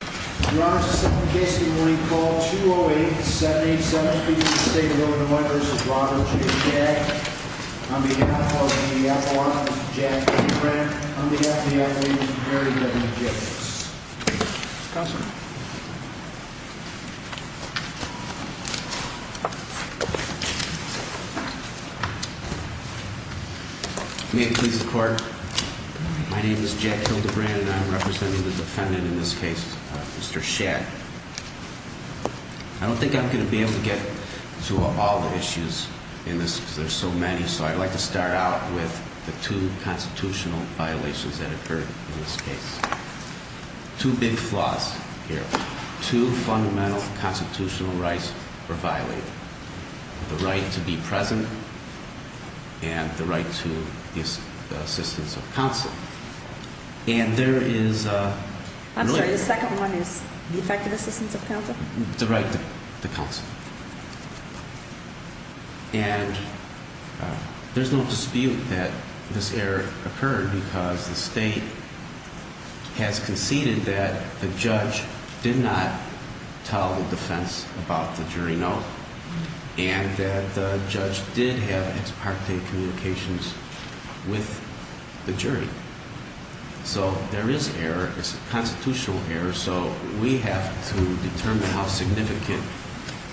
We're on to the second case of the morning, call 208-787, speaking to the State of Illinois v. Robert J. Schag On behalf of the FBI, I'm Jack Hildebrand. On behalf of the FBI, I'm Larry W. Jacobs. May it please the court, my name is Jack Hildebrand and I'm representing the defendant in this case, Mr. Schag. I don't think I'm going to be able to get to all the issues in this because there's so many, so I'd like to start out with the two constitutional violations that occurred in this case. Two big flaws here. Two fundamental constitutional rights were violated. The right to be present and the right to the assistance of counsel. I'm sorry, the second one is the effective assistance of counsel? So there is error. It's a constitutional error, so we have to determine how significant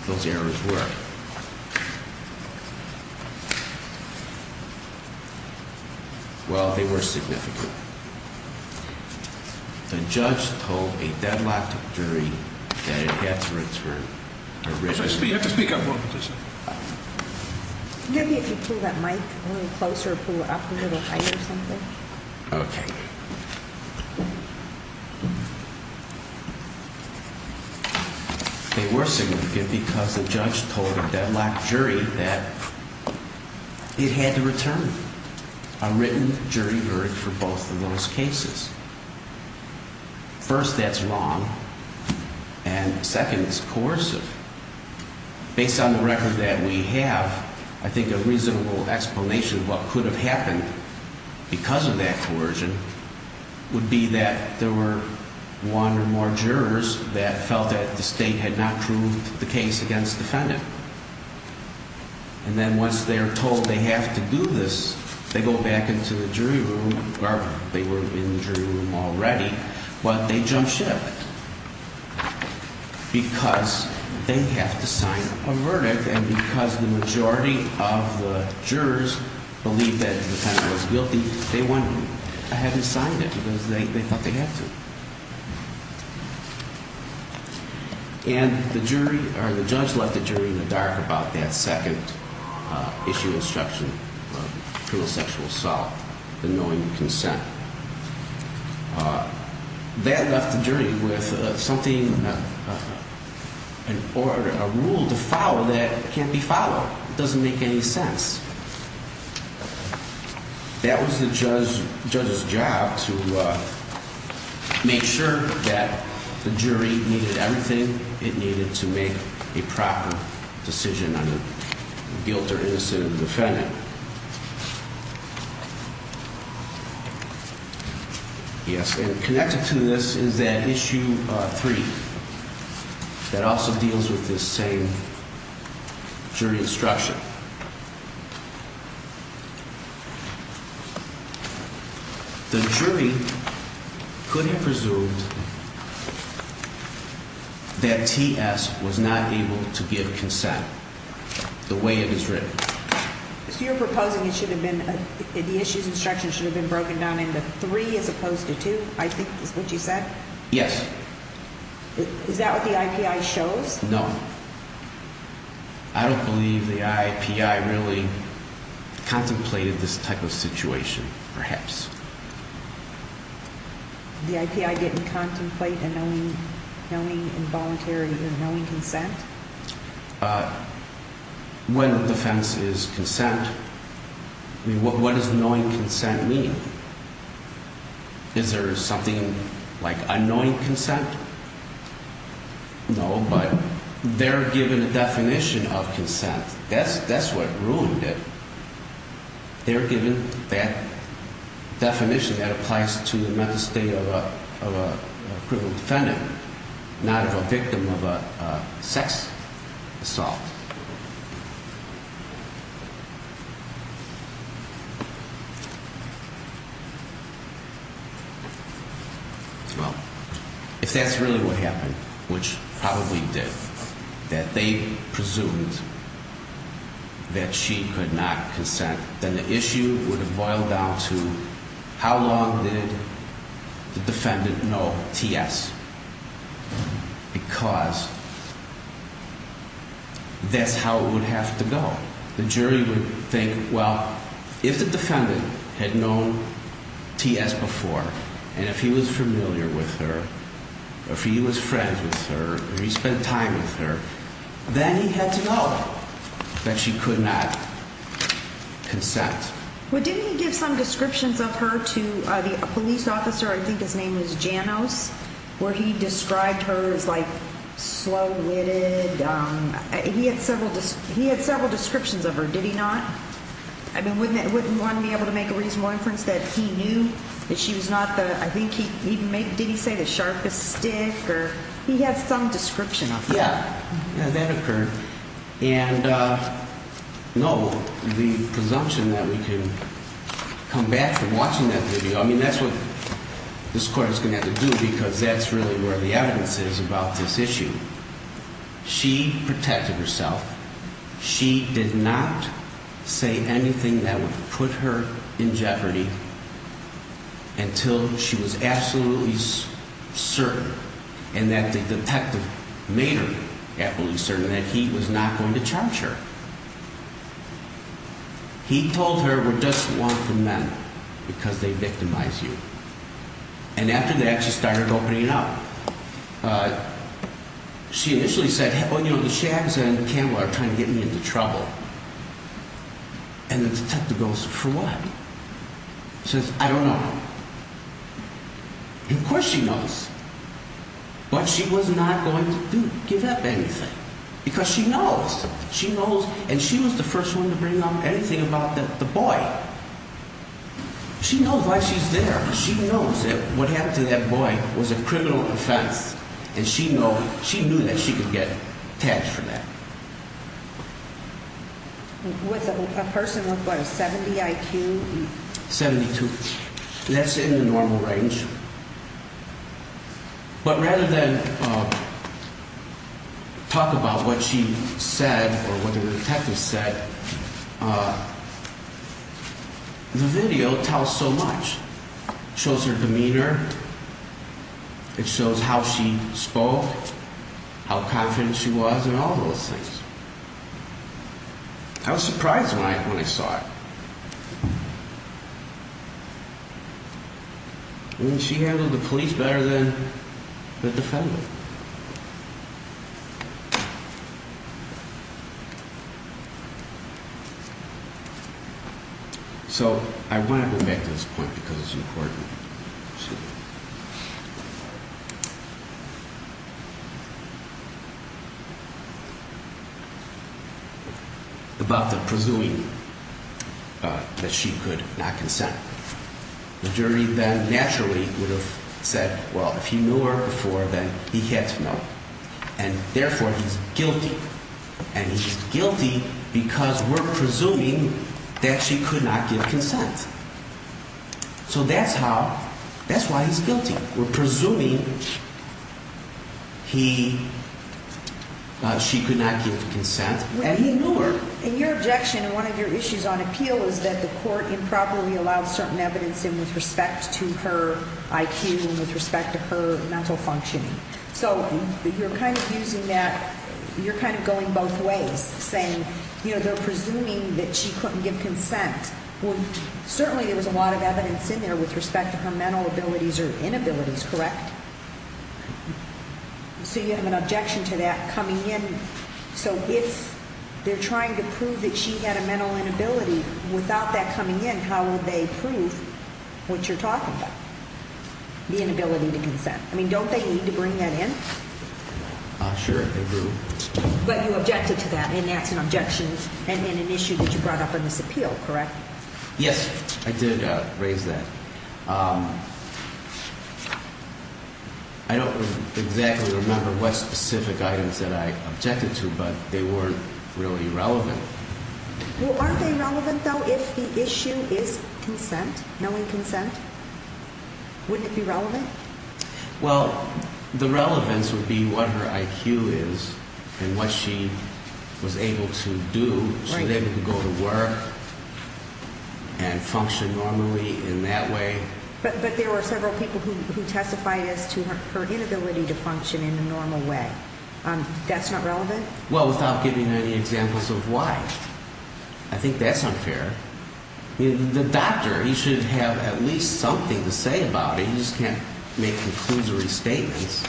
those errors were. Well, they were significant. The judge told a deadlocked jury that it had to return originally. Maybe if you pull that mic a little closer, pull it up a little higher or something. Okay. They were significant because the judge told a deadlocked jury that it had to return a written jury verdict for both of those cases. First, that's wrong. And second, it's coercive. Based on the record that we have, I think a reasonable explanation of what could have happened because of that coercion would be that there were one or more jurors that felt that the state had not proved the case against the defendant. And then once they're told they have to do this, they go back into the jury room, or they were in the jury room already, but they jump ship because they have to sign a verdict. And because the majority of the jurors believed that the defendant was guilty, they went ahead and signed it because they thought they had to. And the jury, or the judge, left the jury in the dark about that second issue instruction of criminal sexual assault, the knowing consent. That left the jury with something, a rule to follow that can't be followed. It doesn't make any sense. That was the judge's job to make sure that the jury needed everything it needed to make a proper decision on a guilty or innocent defendant. Yes, and connected to this is that issue three that also deals with this same jury instruction. The jury couldn't presume that T.S. was not able to give consent the way it was written. So you're proposing the issue's instruction should have been broken down into three as opposed to two, I think is what you said? Yes. Is that what the I.P.I. shows? No. I don't believe the I.P.I. really contemplated this type of situation, perhaps. The I.P.I. didn't contemplate a knowing involuntary or knowing consent? When the defense is consent, what does knowing consent mean? Is there something like unknowing consent? No, but they're given a definition of consent. That's what ruined it. They're given that definition that applies to the mental state of a criminal defendant, not of a victim of a sex assault. Well, if that's really what happened, which probably did, that they presumed that she could not consent, then the issue would have boiled down to how long did the defendant know T.S. because that's how it would have to go. The jury would think, well, if the defendant had known T.S. before and if he was familiar with her, if he was friends with her, if he spent time with her, then he had to know that she could not consent. Well, didn't he give some descriptions of her to the police officer, I think his name was Janos, where he described her as slow-witted? He had several descriptions of her, did he not? I mean, wouldn't one be able to make a reasonable inference that he knew that she was not the, I think he, did he say the sharpest stick? He had some description of her. Yeah, that occurred. And no, the presumption that we can come back from watching that video, I mean, that's what this court is going to have to do because that's really where the evidence is about this issue. She protected herself. She did not say anything that would put her in jeopardy until she was absolutely certain and that the detective made her absolutely certain that he was not going to charge her. He told her, we're just one for men because they victimize you. And after that, she started opening up. She initially said, well, you know, the shags on camera are trying to get me into trouble. And the detective goes, for what? She says, I don't know. Of course she knows. But she was not going to give up anything. Because she knows. She knows. And she was the first one to bring up anything about the boy. She knows why she's there. She knows that what happened to that boy was a criminal offense. And she knew that she could get tagged for that. With a person with, what, a 70 IQ? 72. And that's in the normal range. But rather than talk about what she said or what the detective said, the video tells so much. Shows her demeanor. It shows how she spoke. How confident she was and all those things. I was surprised when I saw it. And she handled the police better than the defendant. So, I want to go back to this point because it's important. About the presuming that she could not consent. The jury then naturally would have said, well, if he knew her before, then he had to know. And therefore, he's guilty. And he's guilty because we're presuming that she could not give consent. So that's how, that's why he's guilty. We're presuming he, she could not give consent and he knew her. And your objection and one of your issues on appeal is that the court improperly allowed certain evidence in with respect to her IQ and with respect to her mental functioning. So, you're kind of using that, you're kind of going both ways. Saying, you know, they're presuming that she couldn't give consent. Well, certainly there was a lot of evidence in there with respect to her mental abilities or inabilities, correct? So, you have an objection to that coming in. So, if they're trying to prove that she had a mental inability without that coming in, how would they prove what you're talking about? The inability to consent. I mean, don't they need to bring that in? Sure, they do. But you objected to that and that's an objection and an issue that you brought up in this appeal, correct? Yes, I did raise that. I don't exactly remember what specific items that I objected to, but they weren't really relevant. Well, aren't they relevant, though, if the issue is consent, knowing consent? Wouldn't it be relevant? Well, the relevance would be what her IQ is and what she was able to do so that she could go to work and function normally in that way. But there were several people who testified as to her inability to function in a normal way. That's not relevant? Well, without giving any examples of why. I think that's unfair. I mean, the doctor, he should have at least something to say about it. He just can't make conclusory statements.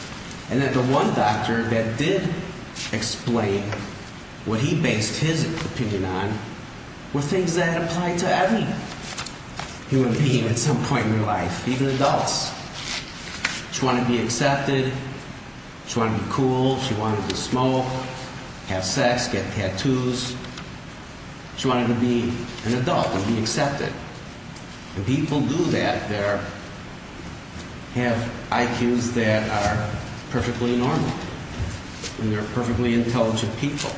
And that the one doctor that did explain what he based his opinion on were things that apply to every human being at some point in their life, even adults. She wanted to be accepted. She wanted to be cool. She wanted to smoke, have sex, get tattoos. She wanted to be an adult and be accepted. When people do that, they have IQs that are perfectly normal. And they're perfectly intelligent people.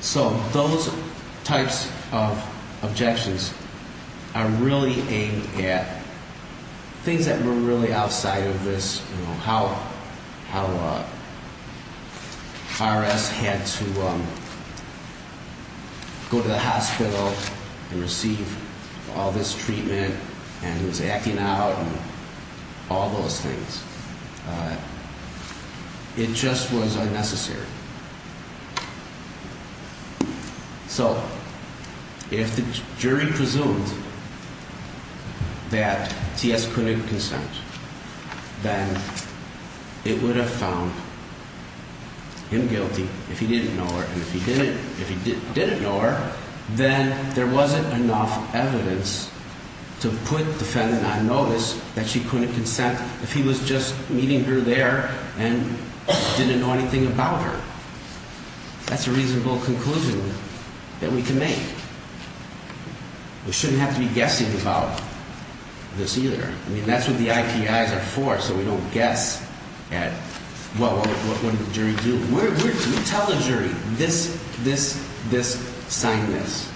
So those types of objections are really aimed at things that were really outside of this, you know, how IRS had to go to the hospital and receive all this treatment and who's acting out and all those things. It just was unnecessary. So if the jury presumed that TS couldn't consent, then it would have found him guilty if he didn't know her. And if he didn't know her, then there wasn't enough evidence to put the defendant on notice that she couldn't consent if he was just meeting her there and didn't know anything about her. That's a reasonable conclusion that we can make. We shouldn't have to be guessing about this either. I mean, that's what the IPIs are for, so we don't guess at, well, what did the jury do? We tell the jury, this, this, this, sign this.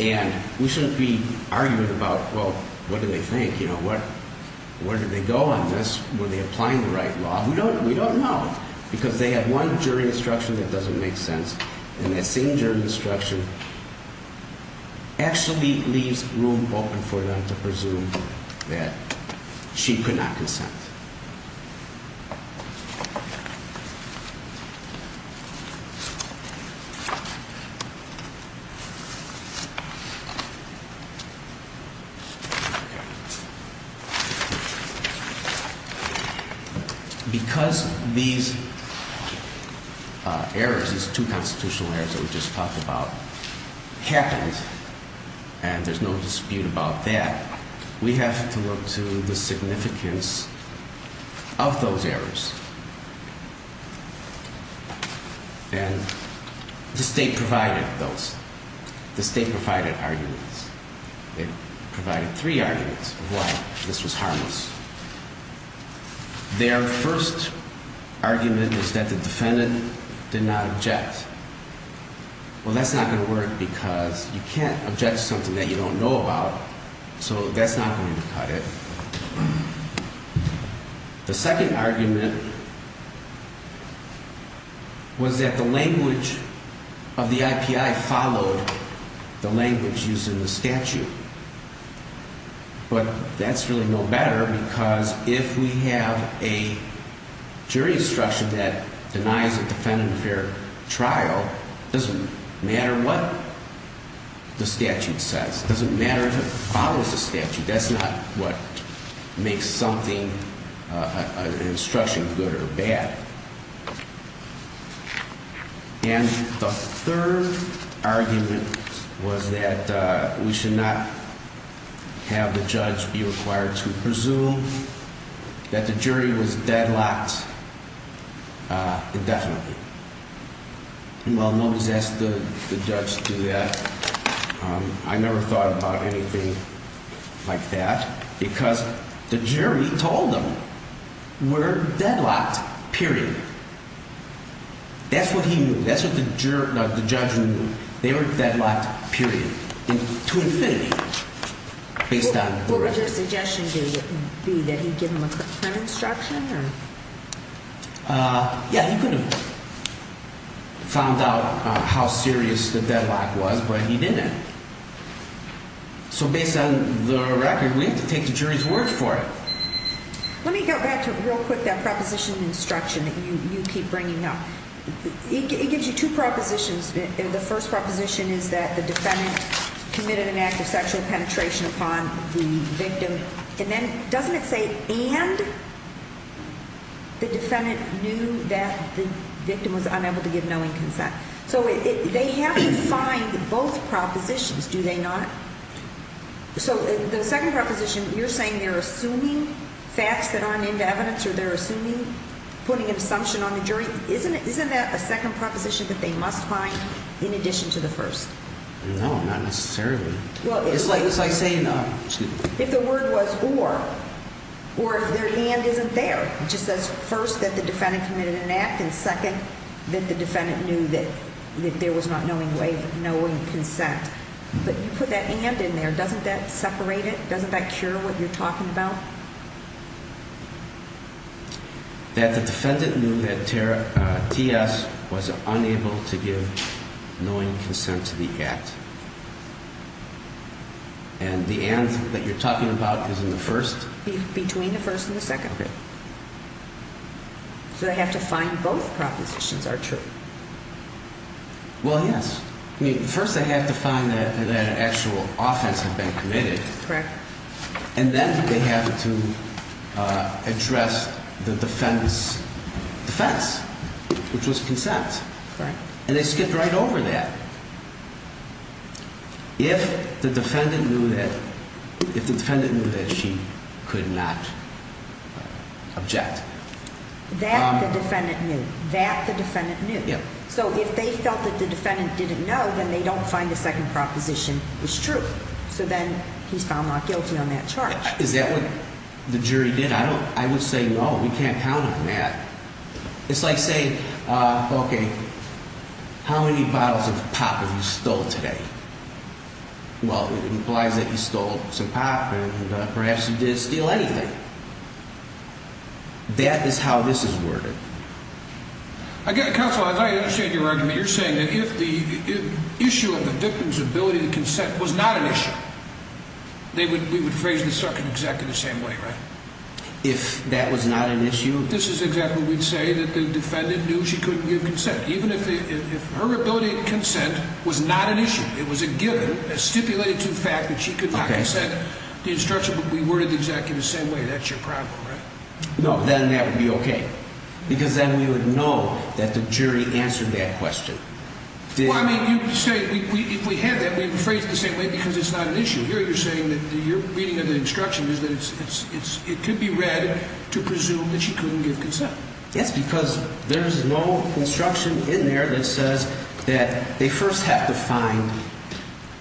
And we shouldn't be arguing about, well, what did they think? You know, where did they go on this? Were they applying the right law? We don't know because they had one jury instruction that doesn't make sense. And that same jury instruction actually leaves room open for them to presume that she could not consent. Because these errors, these two constitutional errors that we just talked about, happened, and there's no dispute about that, we have to look to the significance of that. Of those errors. And the state provided those. The state provided arguments. It provided three arguments of why this was harmless. Their first argument is that the defendant did not object. Well, that's not going to work because you can't object to something that you don't know about. So that's not going to cut it. The second argument was that the language of the IPI followed the language used in the statute. But that's really no better because if we have a jury instruction that denies a defendant a fair trial, it doesn't matter what the statute says. It doesn't matter if it follows the statute. That's not what makes something, an instruction, good or bad. And the third argument was that we should not have the judge be required to presume that the jury was deadlocked indefinitely. Well, nobody's asked the judge to do that. I never thought about anything like that because the jury told them we're deadlocked, period. That's what he knew. That's what the judge knew. They were deadlocked, period, to infinity. What would your suggestion be? That he give them a quick time instruction? Yeah, he could have found out how serious the deadlock was, but he didn't. So based on the record, we have to take the jury's word for it. Let me go back real quick to that proposition instruction that you keep bringing up. It gives you two propositions. The first proposition is that the defendant committed an act of sexual penetration upon the victim. And then doesn't it say, and the defendant knew that the victim was unable to give knowing consent? So they have to find both propositions, do they not? So the second proposition, you're saying they're assuming facts that aren't in the evidence or they're assuming, putting an assumption on the jury. Isn't that a second proposition that they must find in addition to the first? No, not necessarily. It's like saying if the word was or, or if their hand isn't there, which says first that the defendant committed an act and second that the defendant knew that there was not knowing consent. But you put that and in there. Doesn't that separate it? Doesn't that cure what you're talking about? That the defendant knew that T.S. was unable to give knowing consent to the act. And the and that you're talking about is in the first? Between the first and the second. Okay. So they have to find both propositions are true. Well, yes. I mean, first they have to find that an actual offense had been committed. Correct. And then they have to address the defendant's defense, which was consent. Correct. And they skipped right over that. If the defendant knew that, if the defendant knew that she could not object. That the defendant knew. That the defendant knew. Yeah. So if they felt that the defendant didn't know, then they don't find the second proposition is true. So then he's found not guilty on that charge. Is that what the jury did? I don't, I would say, no, we can't count on that. It's like saying, okay, how many bottles of pop have you stole today? Well, it implies that you stole some pop and perhaps you did steal anything. That is how this is worded. Again, counsel, I understand your argument. You're saying that if the issue of the victim's ability to consent was not an issue, we would phrase the second executive the same way, right? If that was not an issue. This is exactly what we'd say, that the defendant knew she couldn't give consent. Even if her ability to consent was not an issue, it was a given, a stipulated to the fact that she could not consent. The instruction would be worded exactly the same way. That's your problem, right? No, then that would be okay. Because then we would know that the jury answered that question. Well, I mean, you say, if we had that, we'd phrase it the same way because it's not an issue. Here you're saying that you're reading the instruction is that it could be read to presume that she couldn't give consent. That's because there's no instruction in there that says that they first have to find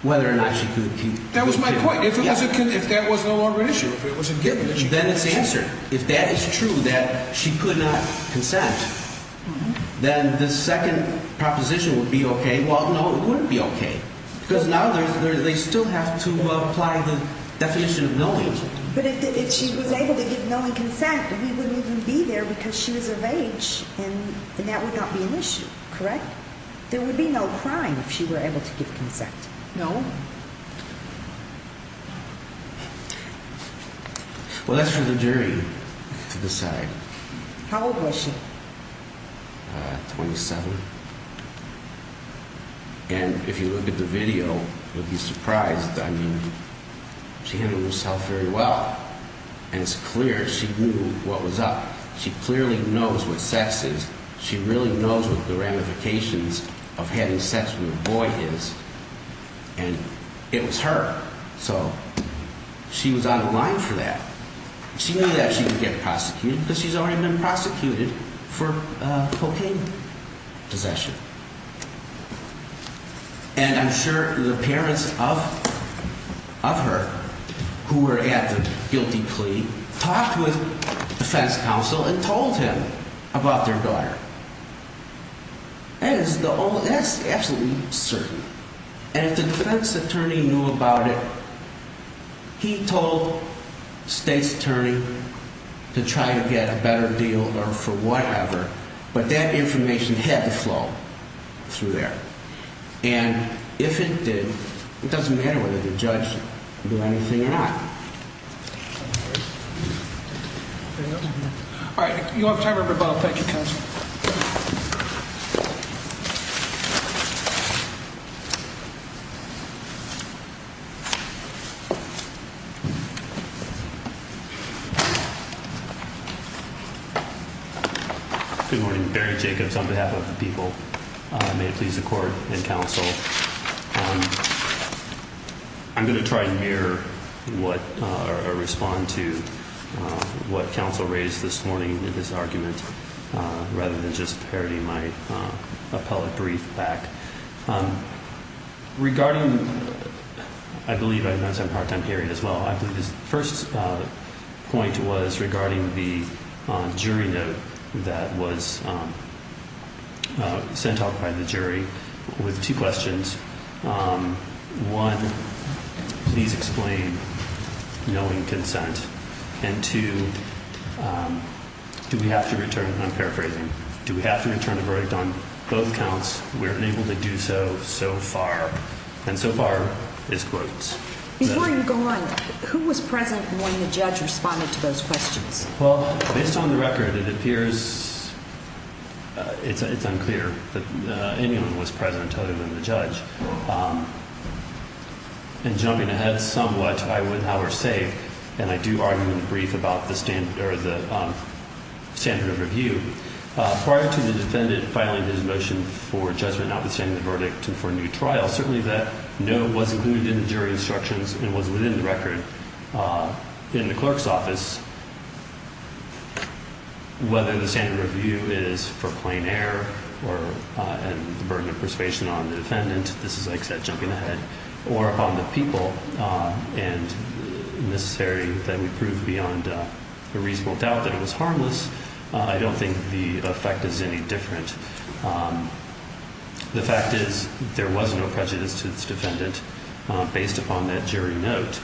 whether or not she could give consent. That was my point. If that was no longer an issue, if it was a given issue. Then it's answered. If that is true, that she could not consent, then the second proposition would be okay. Well, no, it wouldn't be okay because now they still have to apply the definition of knowing. But if she was able to give knowing consent, we wouldn't even be there because she was of age and that would not be an issue, correct? There would be no crime if she were able to give consent. No. Well, that's for the jury to decide. How old was she? 27. And if you look at the video, you'll be surprised. I mean, she handled herself very well. And it's clear she knew what was up. She clearly knows what sex is. She really knows what the ramifications of having sex with a boy is. And it was her. So she was out of line for that. She knew that she would get prosecuted because she's already been prosecuted for cocaine possession. And I'm sure the parents of her who were at the guilty plea talked with defense counsel and told him about their daughter. And that's absolutely certain. And if the defense attorney knew about it, he told the state's attorney to try to get a better deal or for whatever. But that information had to flow through there. And if it did, it doesn't matter whether the judge would do anything or not. All right. You have time for rebuttal. Thank you. Good morning. Barry Jacobs on behalf of the people. May it please the court and counsel. I'm going to try and mirror or respond to what counsel raised this morning in this argument rather than just parodying my appellate brief back. Regarding, I believe, I know it's a part-time hearing as well. First point was regarding the jury note that was sent out by the jury with two questions. One, please explain knowing consent. And two, do we have to return, I'm paraphrasing, do we have to return a verdict on both counts? We're unable to do so so far. And so far is closed. Before you go on, who was present when the judge responded to those questions? Well, based on the record, it appears it's unclear that anyone was present other than the judge. And jumping ahead somewhat, I would, however, say, and I do argue in the brief about the standard of review, prior to the defendant filing his motion for judgment notwithstanding the verdict for a new trial, certainly that note was included in the jury instructions and was within the record in the clerk's office. Whether the standard of review is for plain error and the burden of persuasion on the defendant, this is, like I said, jumping ahead, or upon the people and necessary that we prove beyond a reasonable doubt that it was harmless, I don't think the effect is any different. The fact is there was no prejudice to this defendant based upon that jury note.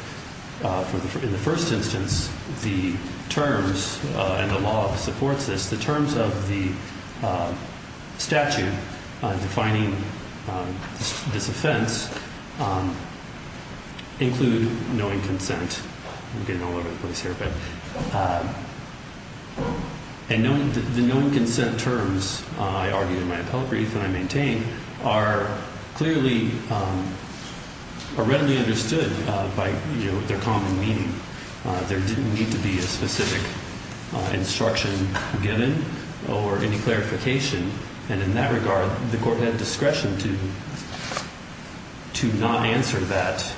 In the first instance, the terms and the law supports this. The terms of the statute defining this offense include knowing consent. I'm getting all over the place here. The knowing consent terms, I argue in my appellate brief and I maintain, are clearly, are readily understood by their common meaning. There didn't need to be a specific instruction given or any clarification. And in that regard, the court had discretion to not answer that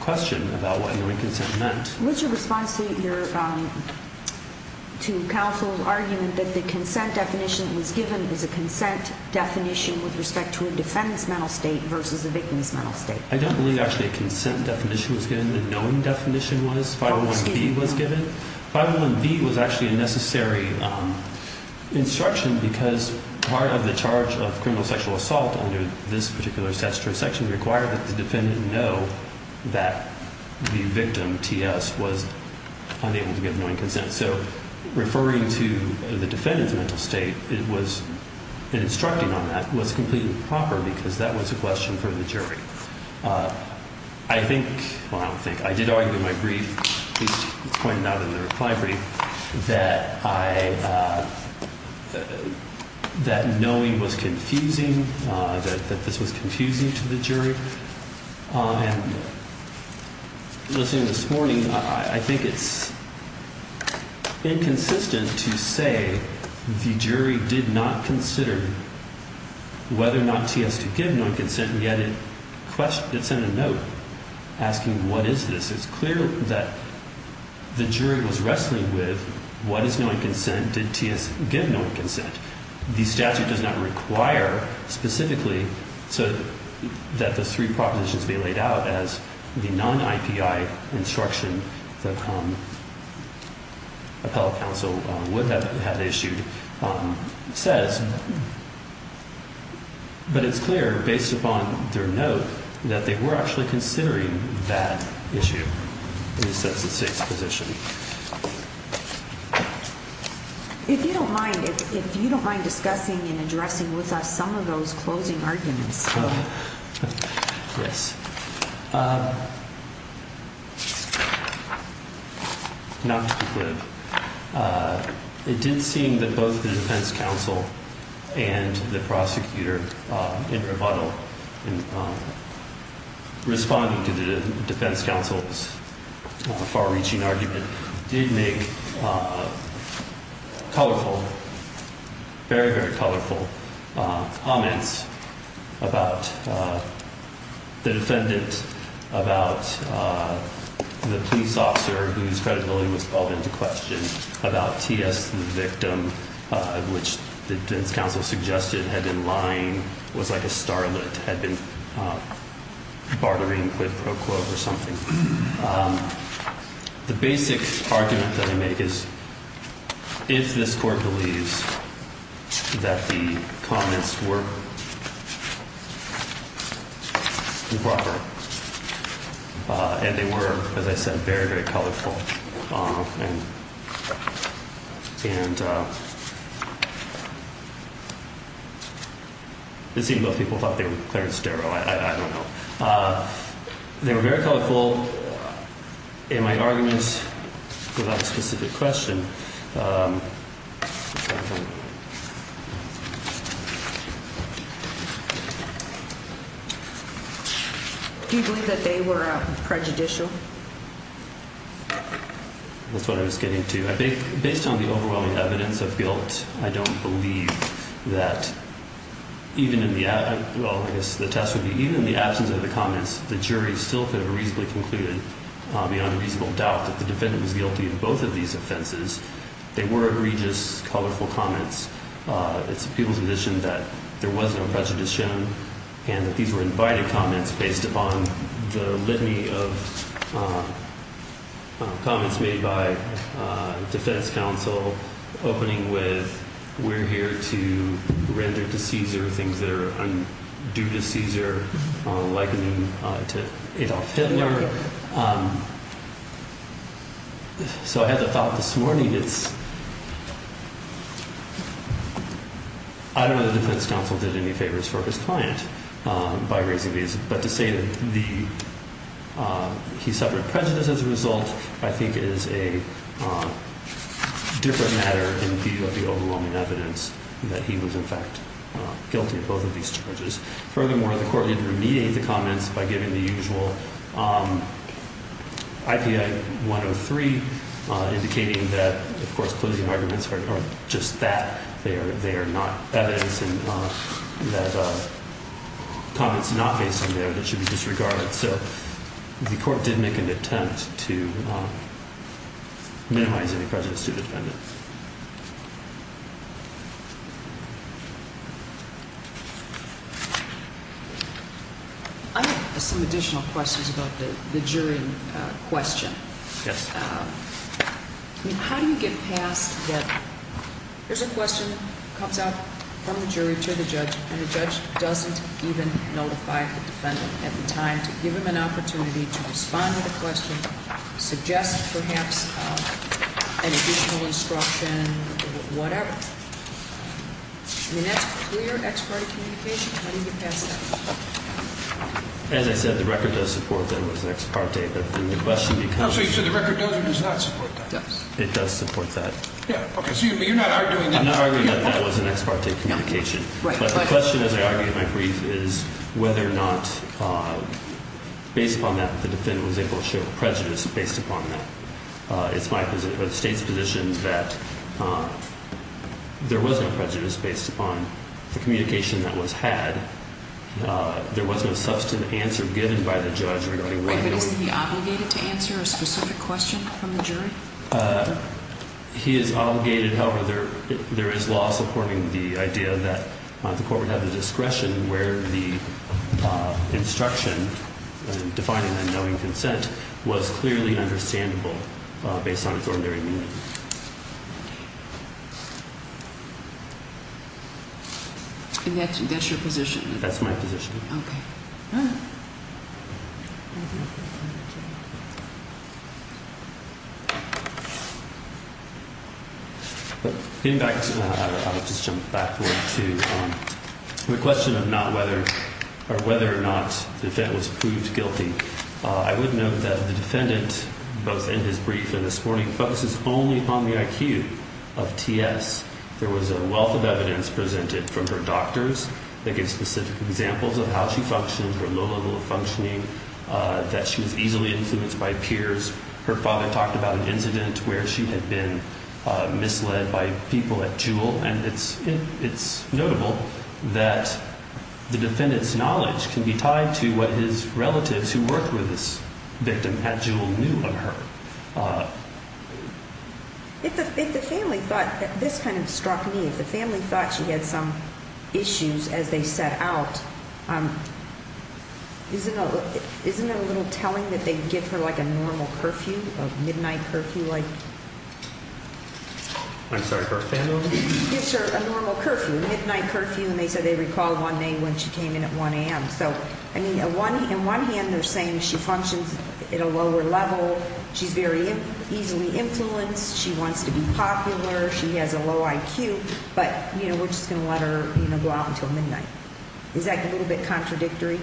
question about what knowing consent meant. What's your response to counsel's argument that the consent definition that was given was a consent definition with respect to a defendant's mental state versus a victim's mental state? I don't believe actually a consent definition was given. The knowing definition was, 501B was given. 501B was actually a necessary instruction because part of the charge of criminal sexual assault under this particular statutory section required that the defendant know that the victim, T.S., was unable to give knowing consent. So referring to the defendant's mental state, it was instructing on that, was completely improper because that was a question for the jury. I think, well, I don't think, I did argue in my brief, which was pointed out in the reply brief, that I, that knowing was confusing, that this was confusing to the jury. And listening this morning, I think it's inconsistent to say the jury did not consider whether or not T.S. did give knowing consent, and yet it sent a note asking, what is this? It's clear that the jury was wrestling with what is knowing consent? Did T.S. give knowing consent? The statute does not require specifically so that the three propositions be laid out as the non-IPI instruction that appellate counsel would have issued says. But it's clear, based upon their note, that they were actually considering that issue in the state's position. Thank you. If you don't mind, if you don't mind discussing and addressing with us some of those closing arguments. Yes. Not to be quib. It did seem that both the defense counsel and the prosecutor, in rebuttal, in responding to the defense counsel's far-reaching argument, did make colorful, very, very colorful comments about the defendant, about the police officer whose credibility was called into question, about T.S. the victim, which the defense counsel suggested had been lying, was like a starlet, had been bartering quid pro quo or something. The basic argument that I make is, if this Court believes that the comments were improper, and they were, as I said, very, very colorful, and it seemed both people thought they were clear and sterile, I don't know. They were very colorful. And my argument, without a specific question. Do you believe that they were prejudicial? That's what I was getting to. Based on the overwhelming evidence of guilt, I don't believe that even in the absence of the comments, the jury still could have reasonably concluded, beyond a reasonable doubt, that the defendant was guilty of both of these offenses. They were egregious, colorful comments. It's a people's condition that there was no prejudice shown, and that these were invited comments based upon the litany of comments made by defense counsel, opening with, we're here to render to Caesar things that are undue to Caesar, likening to Adolf Hitler. So I had the thought this morning, I don't know that defense counsel did any favors for his client by raising these, but to say that he suffered prejudice as a result, I think is a different matter in view of the overwhelming evidence that he was, in fact, guilty of both of these charges. Furthermore, the court did remediate the comments by giving the usual IPI 103, indicating that, of course, closing arguments are just that. They are not evidence that comments not based on there that should be disregarded. So the court did make an attempt to minimize any prejudice to the defendant. I have some additional questions about the jury question. Yes. How do you get past that there's a question that comes out from the jury to the judge, and the judge doesn't even notify the defendant at the time to give him an opportunity to respond to the question, suggest perhaps an additional instruction, whatever? I mean, that's clear ex parte communication. How do you get past that? As I said, the record does support that it was an ex parte, but then the question becomes. So the record does or does not support that? It does support that. Yeah, OK. So you're not arguing that. I'm not arguing that that was an ex parte communication. But the question, as I argue in my brief, is whether or not, based upon that, the defendant was able to show prejudice based upon that. It's my position, or the state's position, that there was no prejudice based upon the communication that was had. There was no substantive answer given by the judge regarding whether or not. But isn't he obligated to answer a specific question from the jury? He is obligated. However, there is law supporting the idea that the court would have the discretion where the instruction, defining a knowing consent, was clearly understandable based on its ordinary meaning. And that's your position? That's my position. OK. All right. In fact, I'll just jump back to the question of whether or not the defendant was proved guilty. I would note that the defendant, both in his brief and this morning, focuses only upon the IQ of T.S. There was a wealth of evidence presented from her doctors that gave specific examples of how she functioned, her low level of functioning, that she was easily influenced by peers. Her father talked about an incident where she had been misled by people at Juul. And it's notable that the defendant's knowledge can be tied to what his relatives who worked with this victim at Juul knew of her. If the family thought, this kind of struck me, if the family thought she had some issues as they set out, isn't it a little telling that they give her like a normal curfew, a midnight curfew? I'm sorry, her family? Gives her a normal curfew, a midnight curfew. And they said they recall one name when she came in at 1 a.m. So, I mean, on one hand they're saying she functions at a lower level, she's very easily influenced, she wants to be popular, she has a low IQ, but we're just going to let her go out until midnight. Is that a little bit contradictory?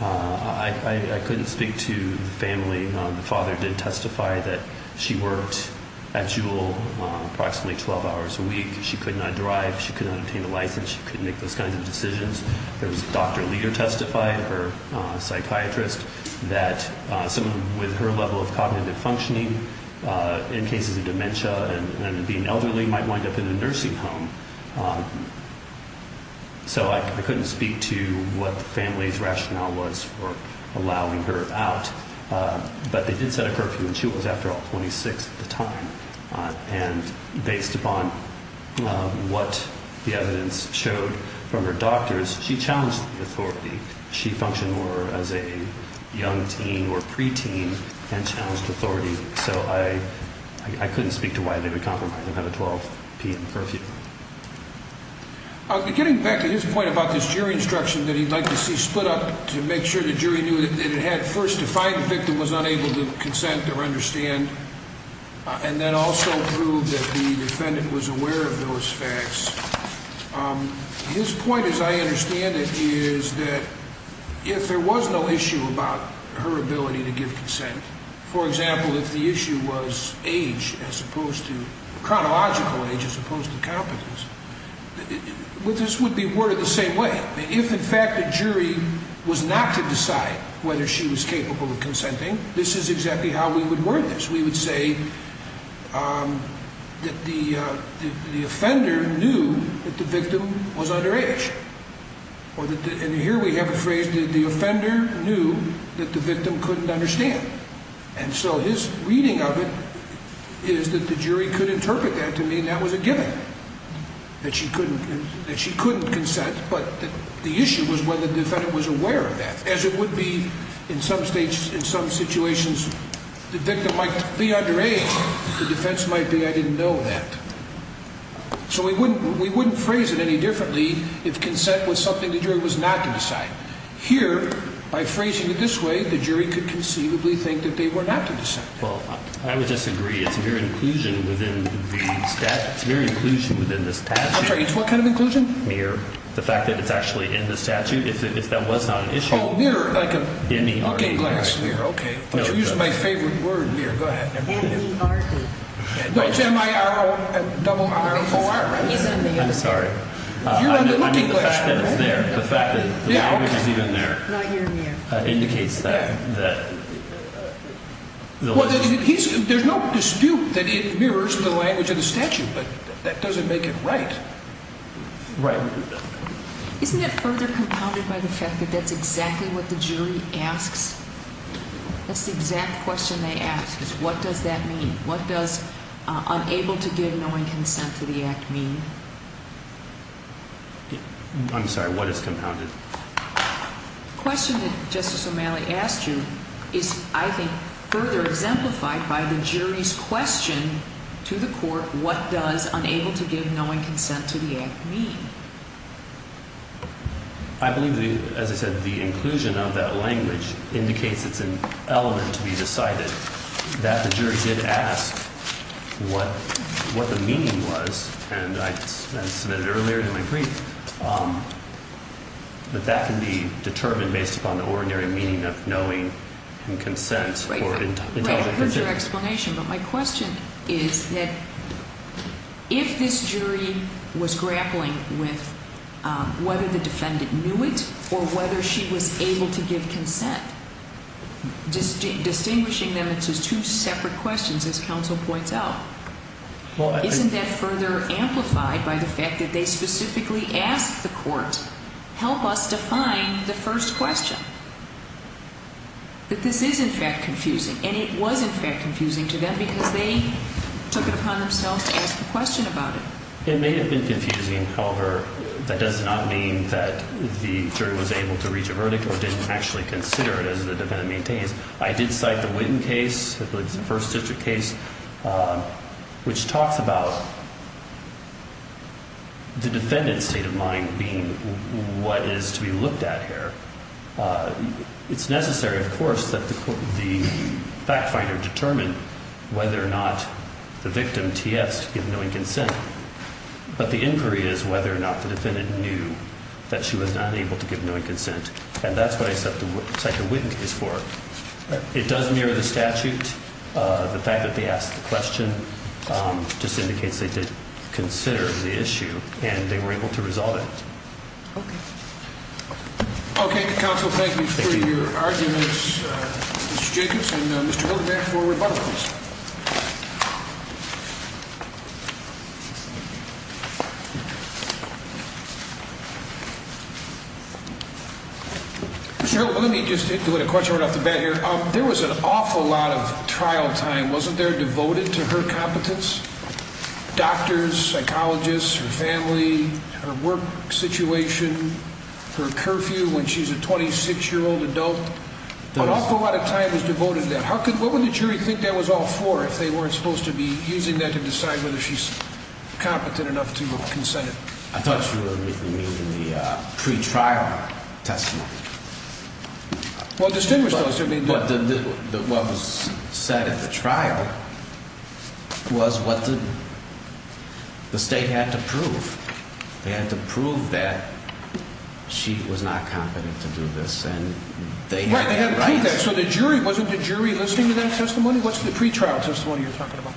I couldn't speak to the family. The father did testify that she worked at Juul approximately 12 hours a week. She could not drive, she could not obtain a license, she couldn't make those kinds of decisions. Her doctor leader testified, her psychiatrist, that someone with her level of cognitive functioning in cases of dementia and being elderly might wind up in a nursing home. So I couldn't speak to what the family's rationale was for allowing her out. But they did set a curfew and she was, after all, 26 at the time. And based upon what the evidence showed from her doctors, she challenged the authority. She functioned more as a young teen or pre-teen and challenged authority. So I couldn't speak to why they would compromise and have a 12 p.m. curfew. Getting back to his point about this jury instruction that he'd like to see split up to make sure the jury knew that it had first defined the victim was unable to consent or understand, and then also prove that the defendant was aware of those facts, his point, as I understand it, is that if there was no issue about her ability to give consent, for example, if the issue was age as opposed to chronological age as opposed to competence, this would be worded the same way. If, in fact, the jury was not to decide whether she was capable of consenting, this is exactly how we would word this. We would say that the offender knew that the victim was underage. And here we have a phrase that the offender knew that the victim couldn't understand. And so his reading of it is that the jury could interpret that to mean that was a given, that she couldn't consent, but the issue was whether the defendant was aware of that. As it would be in some situations, the victim might be underage, the defense might be I didn't know that. So we wouldn't phrase it any differently if consent was something the jury was not to decide. Here, by phrasing it this way, the jury could conceivably think that they were not to decide. Well, I would disagree. It's mere inclusion within the statute. It's mere inclusion within this statute. I'm sorry, it's what kind of inclusion? Mere. The fact that it's actually in the statute, if that was not an issue. Oh, mere, like a looking glass mere, okay. But you used my favorite word, mere. Go ahead. M-E-R-E. No, it's M-I-R-O double R-O-R. I'm sorry. You're under looking glass. The fact that it's there, the fact that the language is even there. Not your mere. Indicates that. Well, there's no dispute that it mirrors the language of the statute, but that doesn't make it right. Right. Isn't it further compounded by the fact that that's exactly what the jury asks? That's the exact question they ask, is what does that mean? What does unable to give knowing consent to the act mean? I'm sorry, what is compounded? The question that Justice O'Malley asked you is, I think, further exemplified by the jury's question to the court, what does unable to give knowing consent to the act mean? I believe, as I said, the inclusion of that language indicates it's an element to be decided. That the jury did ask what the meaning was, and I submitted earlier in my brief, that that can be determined based upon the ordinary meaning of knowing and consent. Here's your explanation, but my question is that if this jury was grappling with whether the defendant knew it or whether she was able to give consent, distinguishing them into two separate questions, as counsel points out, isn't that further amplified by the fact that they specifically ask the court, help us define the first question, that this is, in fact, confusing? And it was, in fact, confusing to them because they took it upon themselves to ask the question about it. It may have been confusing, however, that does not mean that the jury was able to reach a verdict or didn't actually consider it as the defendant maintains. I did cite the Witten case, I believe it's the first district case, which talks about the defendant's state of mind being what is to be looked at here. It's necessary, of course, that the fact finder determine whether or not the victim, T.S., gave knowing consent, but the inquiry is whether or not the defendant knew that she was unable to give knowing consent. And that's what I cite the Witten case for. It does mirror the statute. The fact that they asked the question just indicates they did consider the issue and they were able to resolve it. Okay. Okay, counsel, thank you for your arguments. Mr. Jacobs and Mr. Hildebrand for rebuttals. Mr. Hildebrand, let me just hit you with a question right off the bat here. There was an awful lot of trial time, wasn't there, devoted to her competence? Doctors, psychologists, her family, her work situation, her curfew when she's a 26-year-old adult? An awful lot of time was devoted to that. What would the jury think that was all for if they weren't supposed to be using that to decide whether she's competent enough to consent? I thought you were meaning the pretrial testimony. Well, distinguish those two. What was said at the trial was what the state had to prove. They had to prove that she was not competent to do this and they had rights. Right, they had to prove that. So the jury, wasn't the jury listening to that testimony? What's the pretrial testimony you're talking about?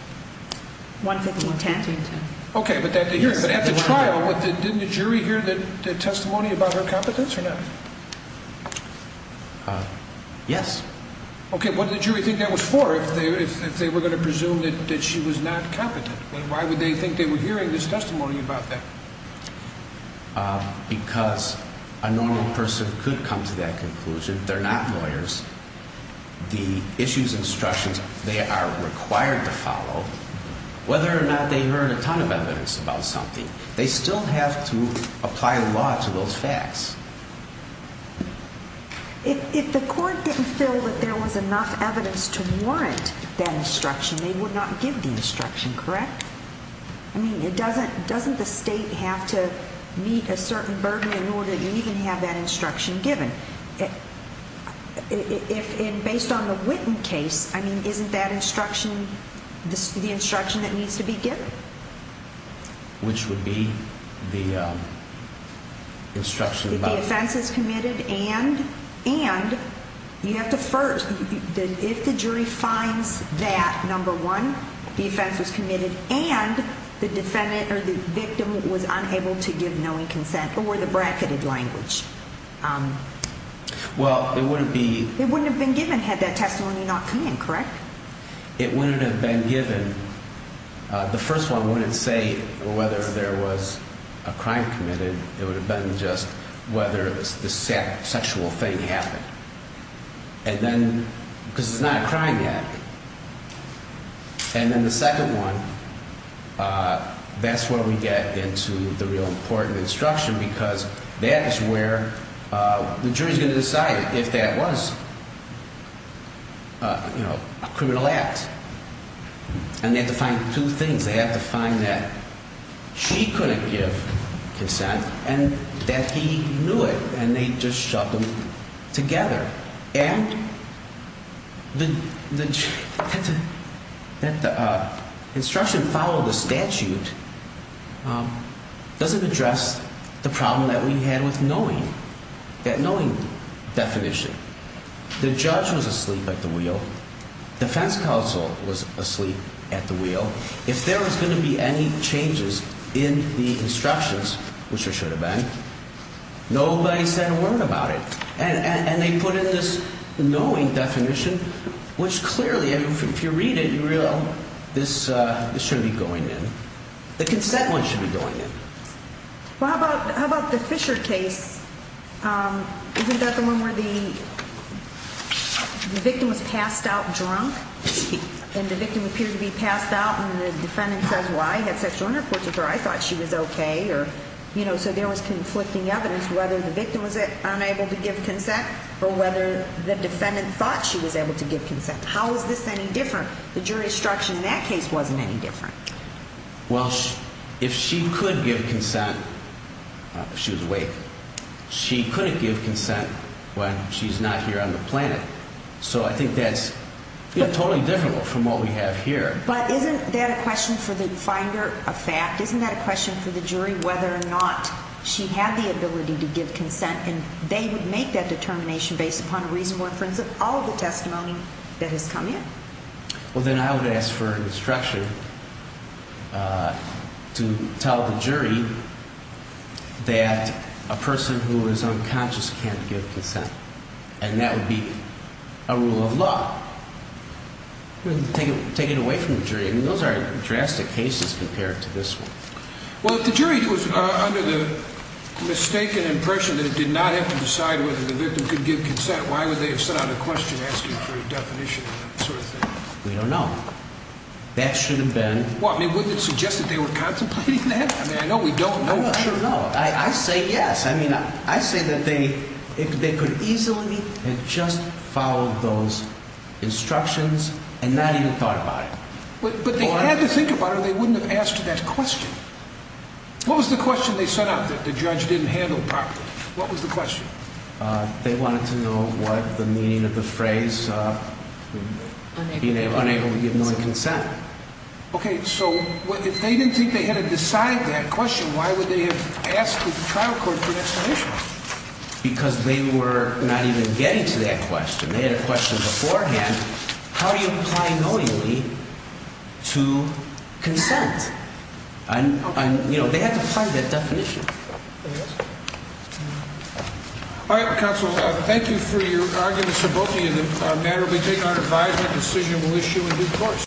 One-fifth of a tentative. Okay, but at the trial, didn't the jury hear the testimony about her competence or not? Yes. Okay, what did the jury think that was for if they were going to presume that she was not competent? And why would they think they were hearing this testimony about that? Because a normal person could come to that conclusion. They're not lawyers. The issues and instructions they are required to follow, whether or not they heard a ton of evidence about something, they still have to apply law to those facts. If the court didn't feel that there was enough evidence to warrant that instruction, they would not give the instruction, correct? I mean, doesn't the state have to meet a certain burden in order to even have that instruction given? Based on the Witten case, isn't that instruction the instruction that needs to be given? Which would be the instruction about... If the offense is committed and you have to first, if the jury finds that, number one, the offense was committed and the defendant or the victim was unable to give knowing consent or the bracketed language. Well, it wouldn't be... It wouldn't have been given had that testimony not come in, correct? It wouldn't have been given. The first one wouldn't say whether there was a crime committed. It would have been just whether the sexual thing happened. And then, because it's not a crime yet. And then the second one, that's where we get into the real important instruction because that is where the jury is going to decide if that was a criminal act. And they have to find two things. They have to find that she couldn't give consent and that he knew it and they just shoved them together. And the instruction following the statute doesn't address the problem that we had with knowing, that knowing definition. The judge was asleep at the wheel. Defense counsel was asleep at the wheel. If there was going to be any changes in the instructions, which there should have been, nobody said a word about it. And they put in this knowing definition, which clearly, if you read it, you realize this shouldn't be going in. The consent one should be going in. Well, how about the Fisher case? Isn't that the one where the victim was passed out drunk? And the victim appeared to be passed out and the defendant says, well, I had sexual intercourse with her. I thought she was okay. So there was conflicting evidence whether the victim was unable to give consent or whether the defendant thought she was able to give consent. How is this any different? The jury's instruction in that case wasn't any different. Well, if she could give consent, she was awake. She couldn't give consent when she's not here on the planet. So I think that's totally different from what we have here. But isn't that a question for the finder of fact? Isn't that a question for the jury whether or not she had the ability to give consent? And they would make that determination based upon a reasonable inference of all of the testimony that has come in? Well, then I would ask for an instruction to tell the jury that a person who is unconscious can't give consent. And that would be a rule of law. Take it away from the jury. I mean, those are drastic cases compared to this one. Well, if the jury was under the mistaken impression that it did not have to decide whether the victim could give consent, why would they have sent out a question asking for a definition of that sort of thing? We don't know. That should have been. What? I mean, wouldn't it suggest that they were contemplating that? I mean, I know we don't know. I don't know. I say yes. I mean, I say that they could easily have just followed those instructions and not even thought about it. But they had to think about it or they wouldn't have asked that question. What was the question they sent out that the judge didn't handle properly? What was the question? They wanted to know what the meaning of the phrase unable to give consent. Okay. So if they didn't think they had to decide that question, why would they have asked the trial court for an explanation? Because they were not even getting to that question. They had a question beforehand. How do you apply knowingly to consent? And, you know, they had to apply that definition. All right, counsel. Thank you for your arguments for both of you. The matter will be taken on advisement. That decision will issue in due course.